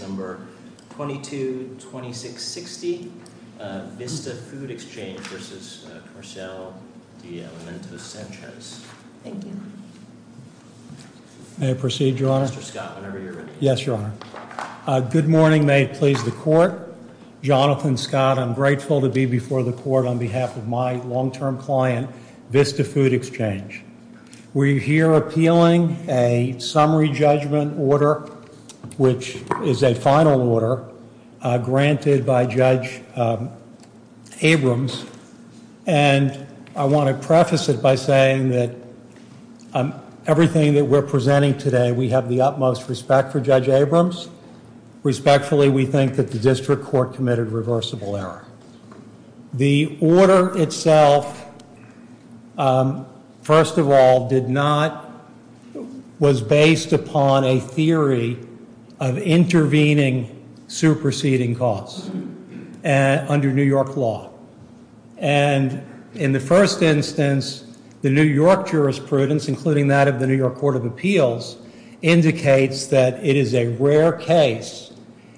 Number 222660, Vista Food Exchange v. Comercial De Alimentos Sanchez. Thank you. May I proceed, Your Honor? Mr. Scott, whenever you're ready. Yes, Your Honor. Good morning. May it please the Court? Jonathan Scott, I'm grateful to be before the Court on behalf of my long-term client, Vista Food Exchange. We're here appealing a summary judgment order, which is a final order, granted by Judge Abrams. And I want to preface it by saying that everything that we're presenting today, we have the utmost respect for Judge Abrams. Respectfully, we think that the district court committed reversible error. The order itself, first of all, was based upon a theory of intervening superseding cause under New York law. And in the first instance, the New York jurisprudence, including that of the New York Court of Appeals, indicates that it is a rare case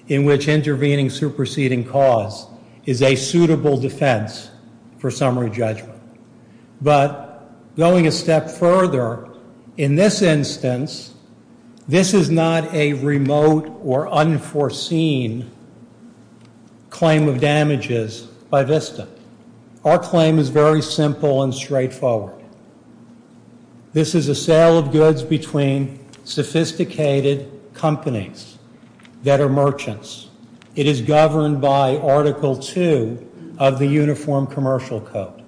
in which intervening superseding cause is a suitable defense for summary judgment. But going a step further, in this instance, this is not a remote or unforeseen claim of damages by Vista. Our claim is very simple and straightforward. This is a sale of goods between sophisticated companies that are merchants. It is governed by Article II of the Uniform Commercial Code.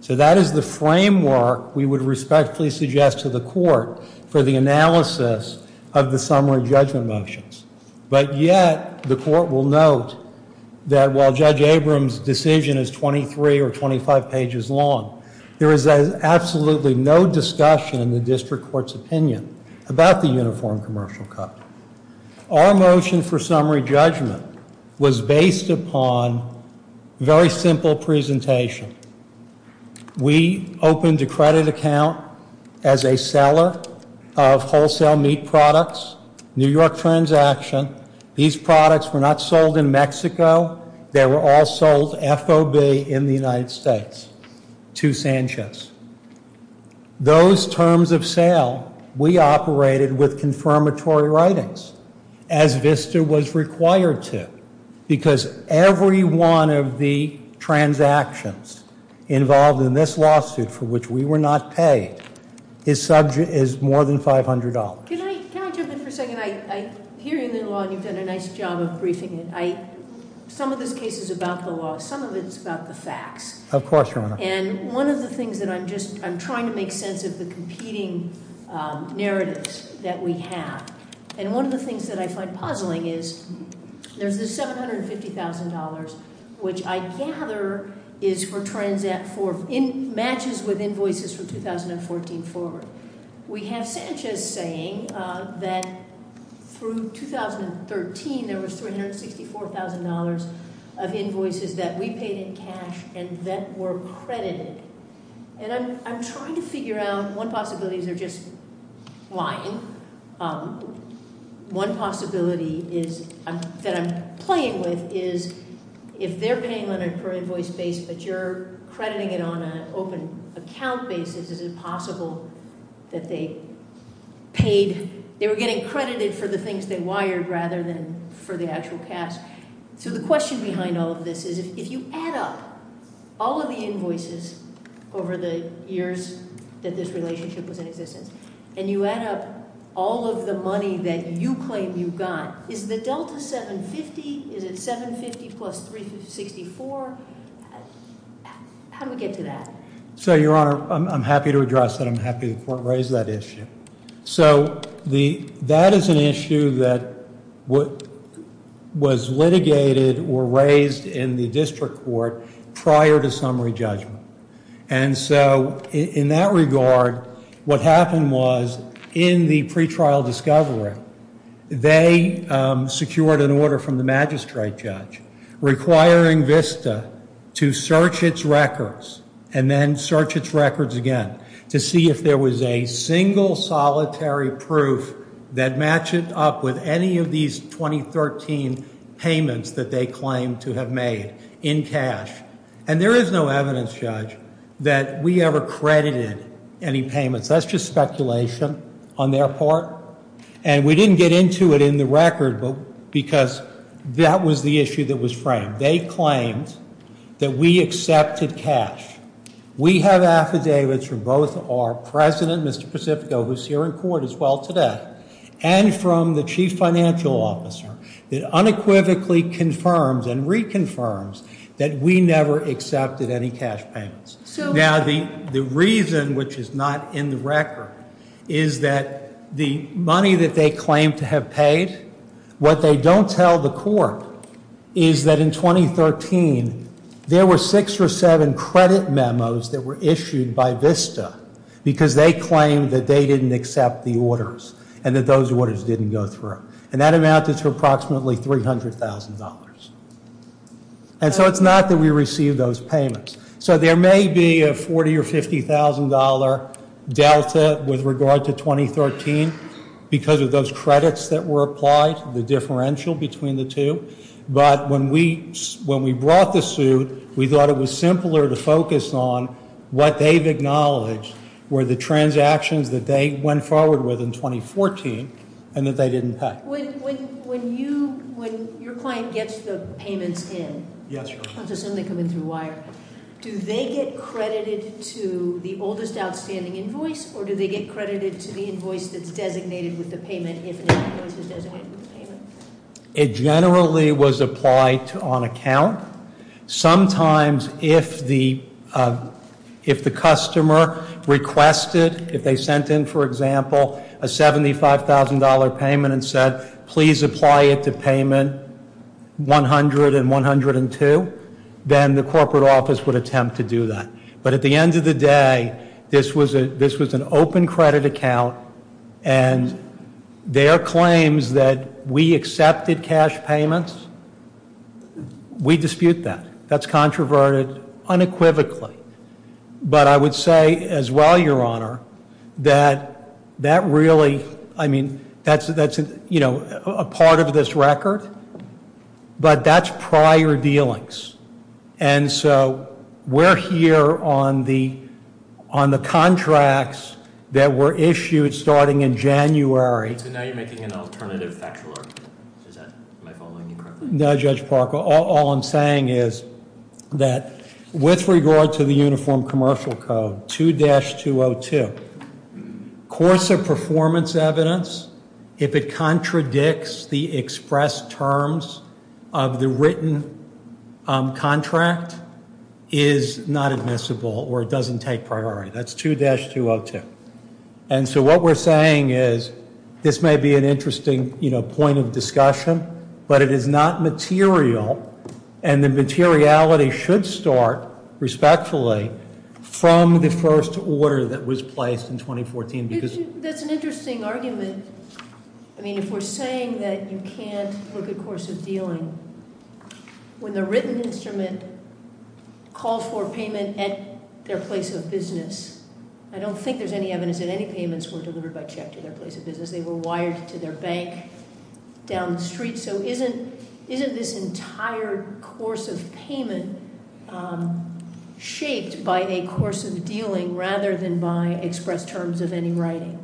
So that is the framework we would respectfully suggest to the Court for the analysis of the summary judgment motions. But yet, the Court will note that while Judge Abrams' decision is 23 or 25 pages long, there is absolutely no discussion in the district court's opinion about the Uniform Commercial Code. Our motion for summary judgment was based upon a very simple presentation. We opened a credit account as a seller of wholesale meat products, New York transaction. These products were not sold in Mexico. They were all sold FOB in the United States to Sanchez. Those terms of sale we operated with confirmatory writings as Vista was required to because every one of the transactions involved in this lawsuit for which we were not paid is more than $500. And I hear you in the law, and you've done a nice job of briefing it. Some of this case is about the law. Some of it is about the facts. Of course, Your Honor. And one of the things that I'm just, I'm trying to make sense of the competing narratives that we have. And one of the things that I find puzzling is there's this $750,000, which I gather is for matches with invoices from 2014 forward. We have Sanchez saying that through 2013 there was $364,000 of invoices that we paid in cash and that were credited. And I'm trying to figure out one possibility. They're just lying. One possibility is that I'm playing with is if they're paying on an invoice base, but you're crediting it on an open account basis, is it possible that they paid, they were getting credited for the things they wired rather than for the actual cash. So the question behind all of this is if you add up all of the invoices over the years that this relationship was in existence and you add up all of the money that you claim you got, is the $750,000, is it $750,000 plus $364,000? How do we get to that? So, Your Honor, I'm happy to address that. I'm happy the court raised that issue. So that is an issue that was litigated or raised in the district court prior to summary judgment. And so in that regard, what happened was in the pretrial discovery, they secured an order from the magistrate judge requiring VISTA to search its records and then search its records again to see if there was a single solitary proof that matched up with any of these 2013 payments that they claimed to have made in cash. And there is no evidence, Judge, that we ever credited any payments. That's just speculation on their part. And we didn't get into it in the record because that was the issue that was framed. They claimed that we accepted cash. We have affidavits from both our president, Mr. Pacifico, who is here in court as well today, and from the chief financial officer that unequivocally confirms and reconfirms that we never accepted any cash payments. Now, the reason, which is not in the record, is that the money that they claim to have paid, what they don't tell the court is that in 2013 there were six or seven credit memos that were issued by VISTA because they claimed that they didn't accept the orders and that those orders didn't go through. And that amounted to approximately $300,000. And so it's not that we received those payments. So there may be a $40,000 or $50,000 delta with regard to 2013 because of those credits that were applied, the differential between the two. But when we brought the suit, we thought it was simpler to focus on what they've acknowledged were the transactions that they went forward with in 2014 and that they didn't pay. When your client gets the payments in- Yes, Your Honor. I'm just suddenly coming through wire. Do they get credited to the oldest outstanding invoice or do they get credited to the invoice that's designated with the payment if an invoice is designated with the payment? It generally was applied on account. Sometimes if the customer requested, if they sent in, for example, a $75,000 payment and said, please apply it to payment 100 and 102, then the corporate office would attempt to do that. But at the end of the day, this was an open credit account and their claims that we accepted cash payments, we dispute that. That's controverted unequivocally. But I would say as well, Your Honor, that that really, I mean, that's a part of this record, but that's prior dealings. And so we're here on the contracts that were issued starting in January. So now you're making an alternative factual argument. Am I following you correctly? No, Judge Parker. All I'm saying is that with regard to the Uniform Commercial Code 2-202, course of performance evidence, if it contradicts the express terms of the written contract, is not admissible or it doesn't take priority. That's 2-202. And so what we're saying is this may be an interesting point of discussion, but it is not material and the materiality should start, respectfully, from the first order that was placed in 2014. That's an interesting argument. I mean, if we're saying that you can't look at course of dealing, when the written instrument calls for payment at their place of business, I don't think there's any evidence that any payments were delivered by check to their place of business. They were wired to their bank down the street. So isn't this entire course of payment shaped by a course of dealing rather than by express terms of any writing?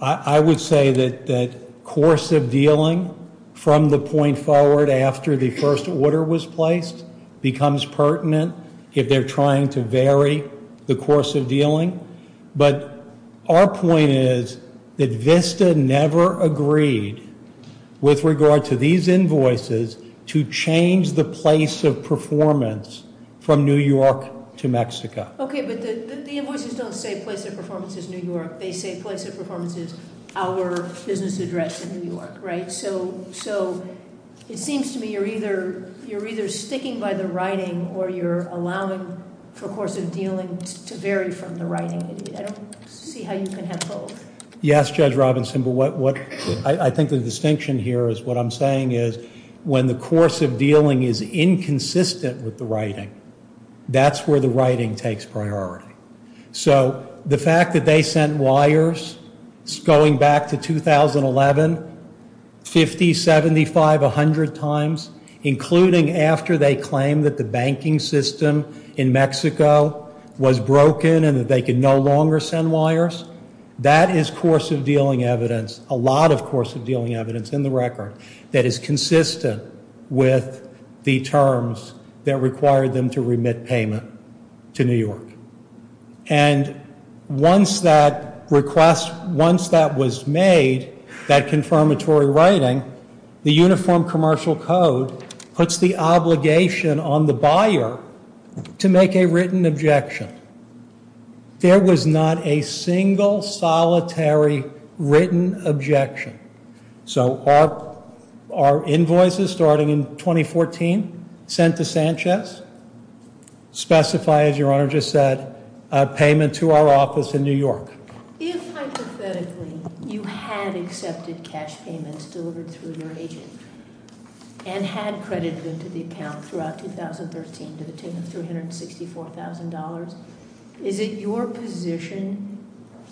I would say that course of dealing from the point forward after the first order was placed becomes pertinent if they're trying to vary the course of dealing. But our point is that Vista never agreed, with regard to these invoices, to change the place of performance from New York to Mexico. Okay, but the invoices don't say place of performance is New York. They say place of performance is our business address in New York, right? So it seems to me you're either sticking by the writing or you're allowing for course of dealing to vary from the writing. I don't see how you can have both. Yes, Judge Robinson, but I think the distinction here is what I'm saying is when the course of dealing is inconsistent with the writing, that's where the writing takes priority. So the fact that they sent wires going back to 2011, 50, 75, 100 times, including after they claimed that the banking system in Mexico was broken and that they could no longer send wires, that is course of dealing evidence, a lot of course of dealing evidence in the record, that is consistent with the terms that required them to remit payment to New York. And once that request, once that was made, that confirmatory writing, the Uniform Commercial Code puts the obligation on the buyer to make a written objection. There was not a single solitary written objection. So our invoices starting in 2014, sent to Sanchez, specify, as your Honor just said, a payment to our office in New York. If hypothetically you had accepted cash payments delivered through your agent, and had credited them to the account throughout 2013 to the tune of $364,000, Is it your position,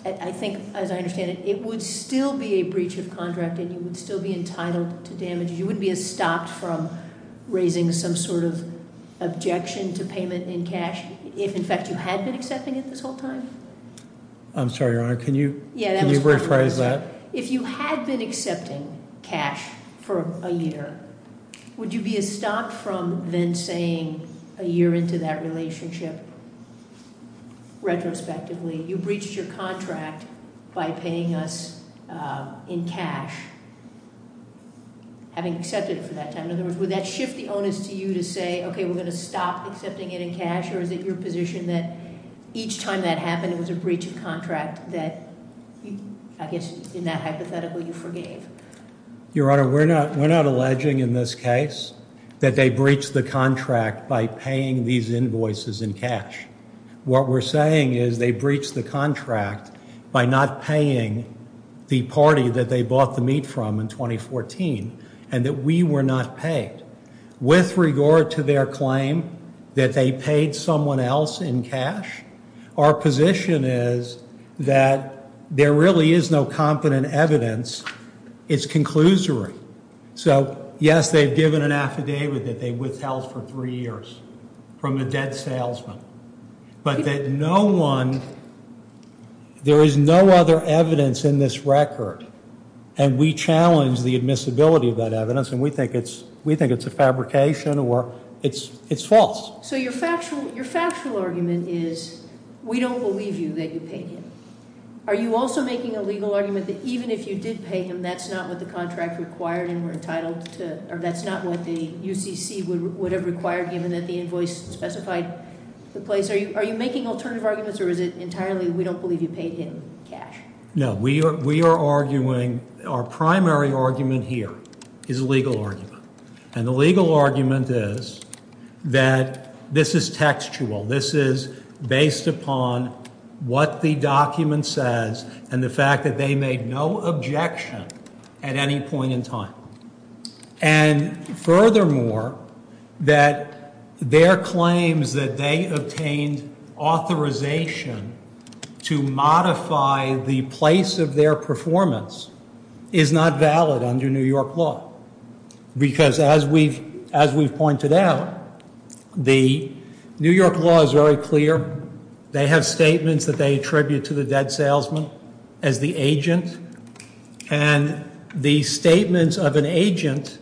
I think as I understand it, it would still be a breach of contract and you would still be entitled to damages. You wouldn't be a stopped from raising some sort of objection to payment in cash, if in fact you had been accepting it this whole time? I'm sorry, Your Honor, can you rephrase that? If you had been accepting cash for a year, would you be a stopped from then saying a year into that relationship? Retrospectively, you breached your contract by paying us in cash, having accepted it for that time. In other words, would that shift the onus to you to say, okay, we're going to stop accepting it in cash? Or is it your position that each time that happened, it was a breach of contract that, I guess, in that hypothetical, you forgave? Your Honor, we're not alleging in this case that they breached the contract by paying these invoices in cash. What we're saying is they breached the contract by not paying the party that they bought the meat from in 2014, and that we were not paid. With regard to their claim that they paid someone else in cash, our position is that there really is no competent evidence. It's conclusory. So, yes, they've given an affidavit that they withheld for three years from a dead salesman, but that no one, there is no other evidence in this record, and we challenge the admissibility of that evidence, and we think it's a fabrication or it's false. So your factual argument is we don't believe you that you paid him. Are you also making a legal argument that even if you did pay him, that's not what the contract required and were entitled to, or that's not what the UCC would have required given that the invoice specified the place? Are you making alternative arguments, or is it entirely we don't believe you paid him cash? No, we are arguing, our primary argument here is a legal argument, and the legal argument is that this is textual. This is based upon what the document says and the fact that they made no objection at any point in time. And furthermore, that their claims that they obtained authorization to modify the place of their performance is not valid under New York law. Because as we've pointed out, the New York law is very clear. They have statements that they attribute to the dead salesman as the agent, and the statements of an agent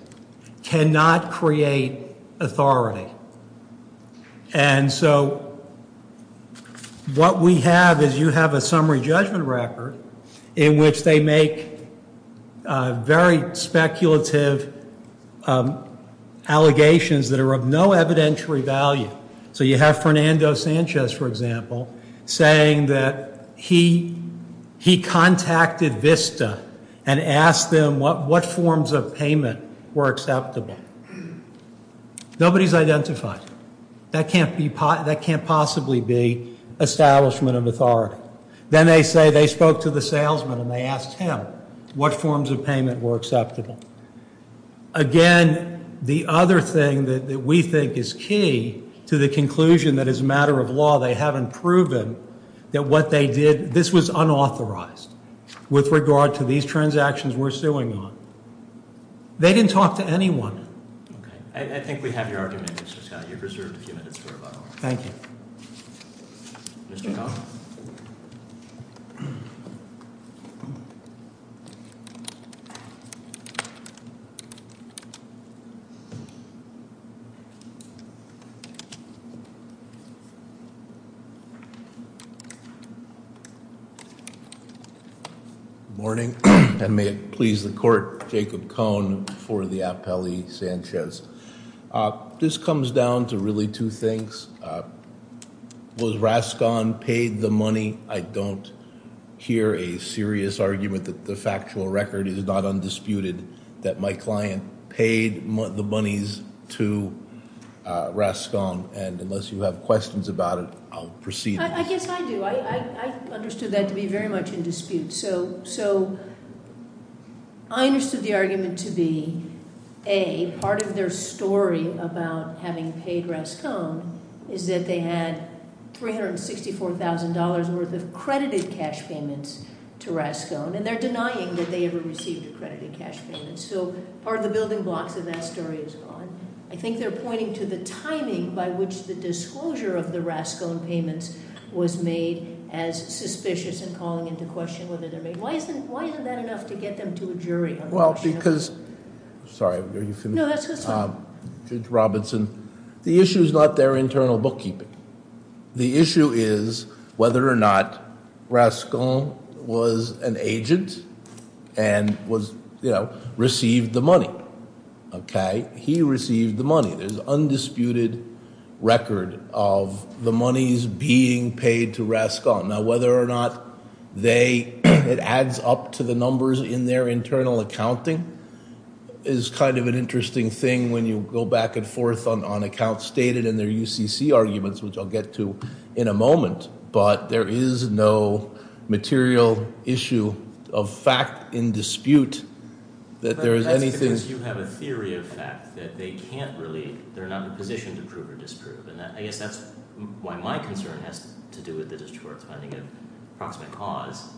cannot create authority. And so what we have is you have a summary judgment record in which they make very speculative allegations that are of no evidentiary value. So you have Fernando Sanchez, for example, saying that he contacted Vista and asked them what forms of payment were acceptable. Nobody's identified. That can't possibly be establishment of authority. Then they say they spoke to the salesman and they asked him what forms of payment were acceptable. Again, the other thing that we think is key to the conclusion that is a matter of law, they haven't proven that what they did, this was unauthorized with regard to these transactions we're suing on. They didn't talk to anyone. I think we have your argument, Mr. Scott. You're reserved a few minutes for rebuttal. Thank you. Mr. Cohn. Good morning, and may it please the court, Jacob Cohn for the appellee, Sanchez. This comes down to really two things. Was Rascon paid the money? I don't hear a serious argument that the factual record is not undisputed, that my client paid the monies to Rascon. And unless you have questions about it, I'll proceed. I guess I do. I understood that to be very much in dispute. So I understood the argument to be, A, part of their story about having paid Rascon is that they had $364,000 worth of credited cash payments to Rascon, and they're denying that they ever received accredited cash payments. So part of the building blocks of that story is gone. I think they're pointing to the timing by which the disclosure of the Rascon payments was made as suspicious and calling into question whether they're made. Why isn't that enough to get them to a jury? Well, because... sorry, are you familiar? No, that's fine. Judge Robinson, the issue is not their internal bookkeeping. The issue is whether or not Rascon was an agent and received the money. Okay? He received the money. There's undisputed record of the monies being paid to Rascon. Now, whether or not it adds up to the numbers in their internal accounting is kind of an interesting thing when you go back and forth on accounts stated in their UCC arguments, which I'll get to in a moment. But there is no material issue of fact in dispute that there is anything... But that's because you have a theory of fact that they can't really... they're not in a position to prove or disprove. And I guess that's why my concern has to do with the distorts finding an approximate cause.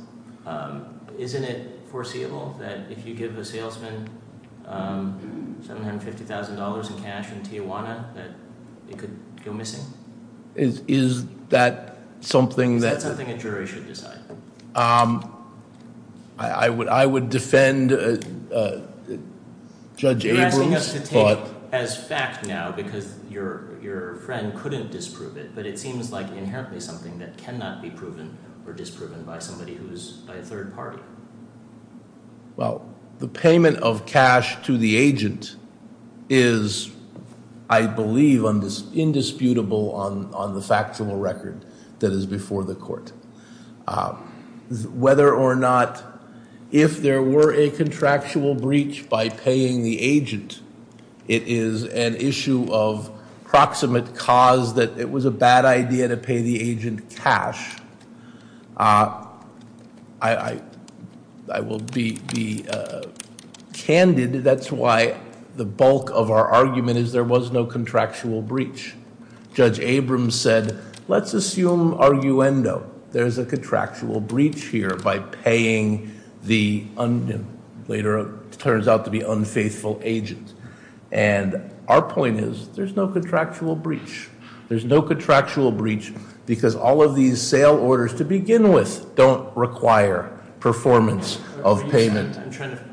Isn't it foreseeable that if you give a salesman $750,000 in cash in Tijuana that it could go missing? Is that something that... Is that something a jury should decide? I would defend Judge Abrams' thought... You're asking us to take it as fact now because your friend couldn't disprove it. But it seems like inherently something that cannot be proven or disproven by somebody who's a third party. Well, the payment of cash to the agent is, I believe, indisputable on the factual record that is before the court. Whether or not... If there were a contractual breach by paying the agent, it is an issue of approximate cause that it was a bad idea to pay the agent cash. I will be candid. That's why the bulk of our argument is there was no contractual breach. Judge Abrams said, let's assume arguendo. There's a contractual breach here by paying the later turns out to be unfaithful agent. And our point is there's no contractual breach. There's no contractual breach because all of these sale orders to begin with don't require performance of payment. I'm trying to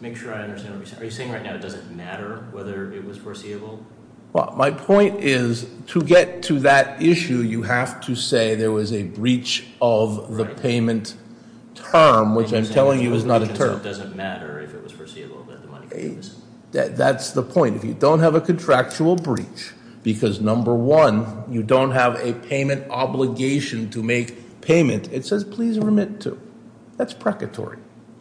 make sure I understand what you're saying. Are you saying right now it doesn't matter whether it was foreseeable? Well, my point is to get to that issue, you have to say there was a breach of the payment term, which I'm telling you is not a term. It doesn't matter if it was foreseeable that the money... Number one, you don't have a payment obligation to make payment. It says, please remit to. That's precatory.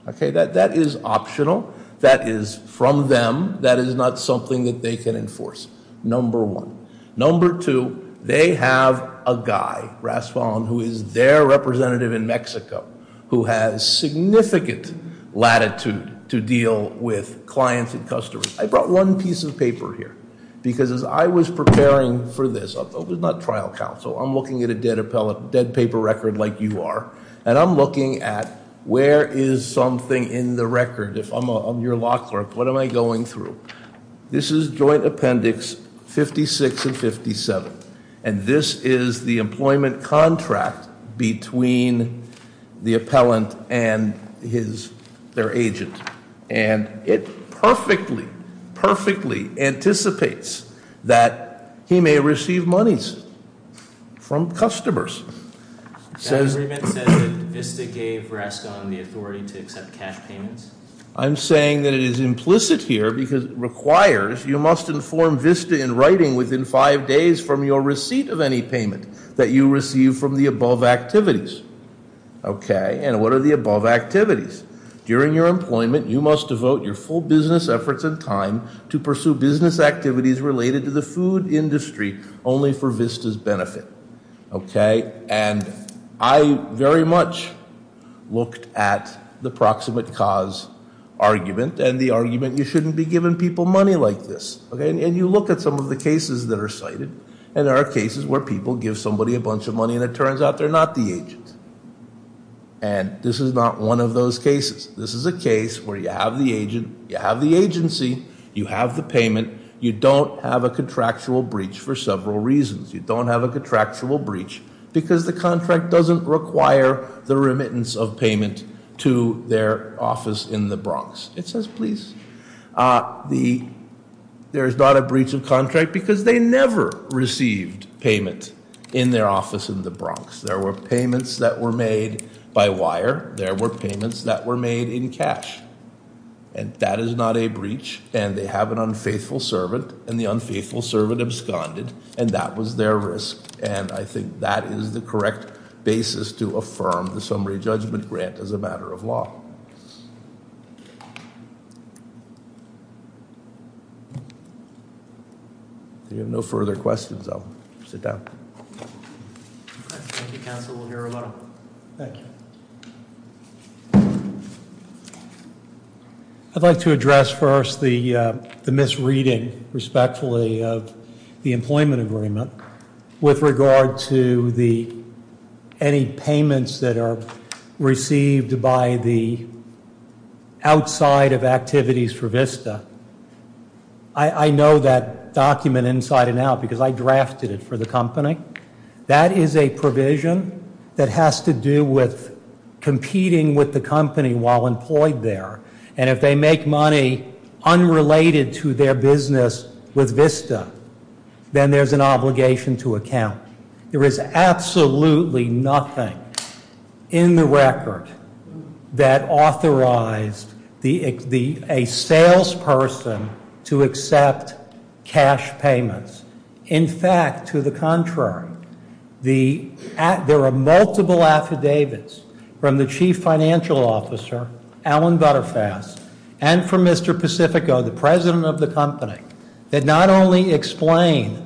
Okay, that is optional. That is from them. That is not something that they can enforce, number one. Number two, they have a guy, Raspall, who is their representative in Mexico, who has significant latitude to deal with clients and customers. I brought one piece of paper here because as I was preparing for this, it was not trial counsel. I'm looking at a dead paper record like you are. And I'm looking at where is something in the record. If I'm your law clerk, what am I going through? This is joint appendix 56 and 57. And this is the employment contract between the appellant and their agent. And it perfectly, perfectly anticipates that he may receive monies from customers. That agreement says that VISTA gave Rascal the authority to accept cash payments. I'm saying that it is implicit here because it requires you must inform VISTA in writing within five days from your receipt of any payment that you receive from the above activities. Okay, and what are the above activities? During your employment, you must devote your full business efforts and time to pursue business activities related to the food industry only for VISTA's benefit. Okay, and I very much looked at the proximate cause argument and the argument you shouldn't be giving people money like this. And you look at some of the cases that are cited, and there are cases where people give somebody a bunch of money and it turns out they're not the agent. And this is not one of those cases. This is a case where you have the agent, you have the agency, you have the payment, you don't have a contractual breach for several reasons. You don't have a contractual breach because the contract doesn't require the remittance of payment to their office in the Bronx. It says, please, there is not a breach of contract because they never received payment in their office in the Bronx. There were payments that were made by wire. There were payments that were made in cash. And that is not a breach. And they have an unfaithful servant, and the unfaithful servant absconded, and that was their risk. And I think that is the correct basis to affirm the summary judgment grant as a matter of law. Thank you. If you have no further questions, I'll sit down. Thank you, Counsel. We'll hear about it. Thank you. I'd like to address first the misreading, respectfully, of the employment agreement with regard to any payments that are received by the outside of activities for VISTA. I know that document inside and out because I drafted it for the company. That is a provision that has to do with competing with the company while employed there. And if they make money unrelated to their business with VISTA, then there's an obligation to account. There is absolutely nothing in the record that authorized a salesperson to accept cash payments. In fact, to the contrary, there are multiple affidavits from the chief financial officer, Alan Butterfass, and from Mr. Pacifico, the president of the company, that not only explain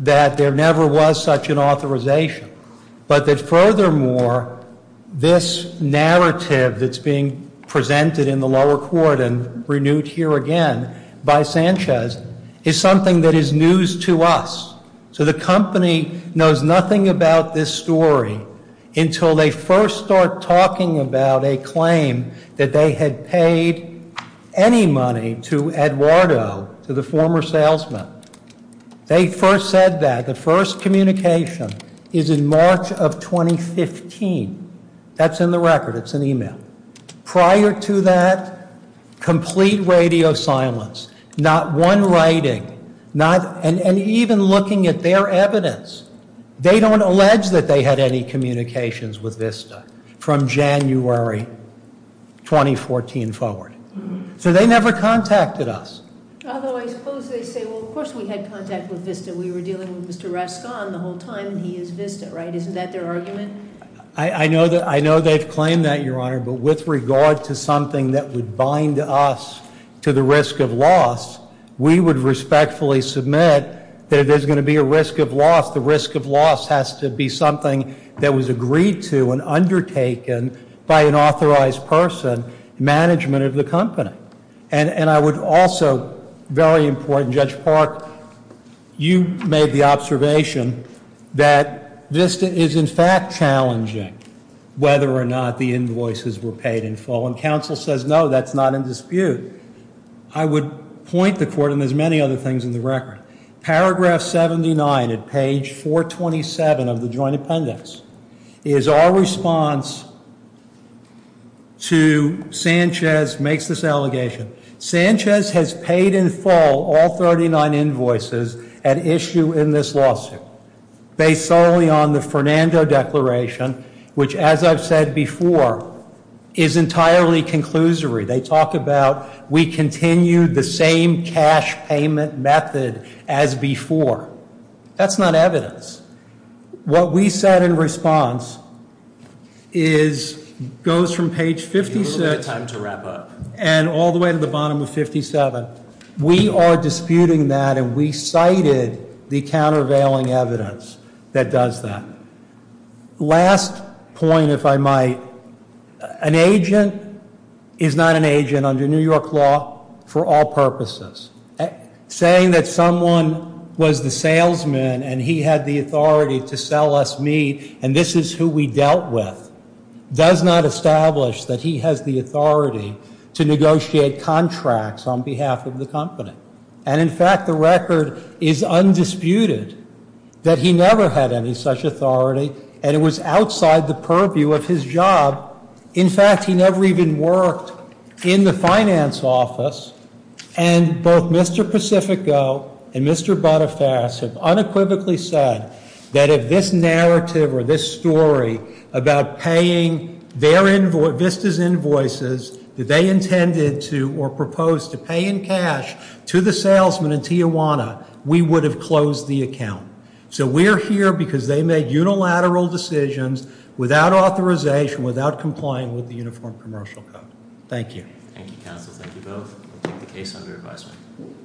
that there never was such an authorization, but that furthermore this narrative that's being presented in the lower court and renewed here again by Sanchez is something that is news to us. So the company knows nothing about this story until they first start talking about a claim that they had paid any money to Eduardo, to the former salesman. They first said that. The first communication is in March of 2015. That's in the record. It's an email. Prior to that, complete radio silence. Not one writing. And even looking at their evidence. They don't allege that they had any communications with VISTA from January 2014 forward. So they never contacted us. Although I suppose they say, well, of course we had contact with VISTA. We were dealing with Mr. Raskin the whole time, and he is VISTA, right? Isn't that their argument? I know they've claimed that, Your Honor, but with regard to something that would bind us to the risk of loss, we would respectfully submit that if there's going to be a risk of loss, the risk of loss has to be something that was agreed to and undertaken by an authorized person, management of the company. And I would also, very important, Judge Park, you made the observation that VISTA is in fact challenging whether or not the invoices were paid in full. And counsel says, no, that's not in dispute. I would point the court, and there's many other things in the record. Paragraph 79 at page 427 of the joint appendix is our response to Sanchez makes this allegation. Sanchez has paid in full all 39 invoices at issue in this lawsuit, based solely on the Fernando Declaration, which, as I've said before, is entirely conclusory. They talk about we continue the same cash payment method as before. That's not evidence. What we said in response is, goes from page 57- We need a little bit of time to wrap up. And all the way to the bottom of 57. We are disputing that, and we cited the countervailing evidence that does that. Last point, if I might. An agent is not an agent under New York law for all purposes. Saying that someone was the salesman and he had the authority to sell us meat and this is who we dealt with does not establish that he has the authority to negotiate contracts on behalf of the company. And, in fact, the record is undisputed that he never had any such authority, and it was outside the purview of his job. In fact, he never even worked in the finance office. And both Mr. Pacifico and Mr. Boniface have unequivocally said that if this narrative or this story about paying Vista's invoices that they intended to or proposed to pay in cash to the salesman in Tijuana, we would have closed the account. So we're here because they made unilateral decisions without authorization, without complying with the Uniform Commercial Code. Thank you. Thank you, counsel. Thank you both. We'll take the case under advisement.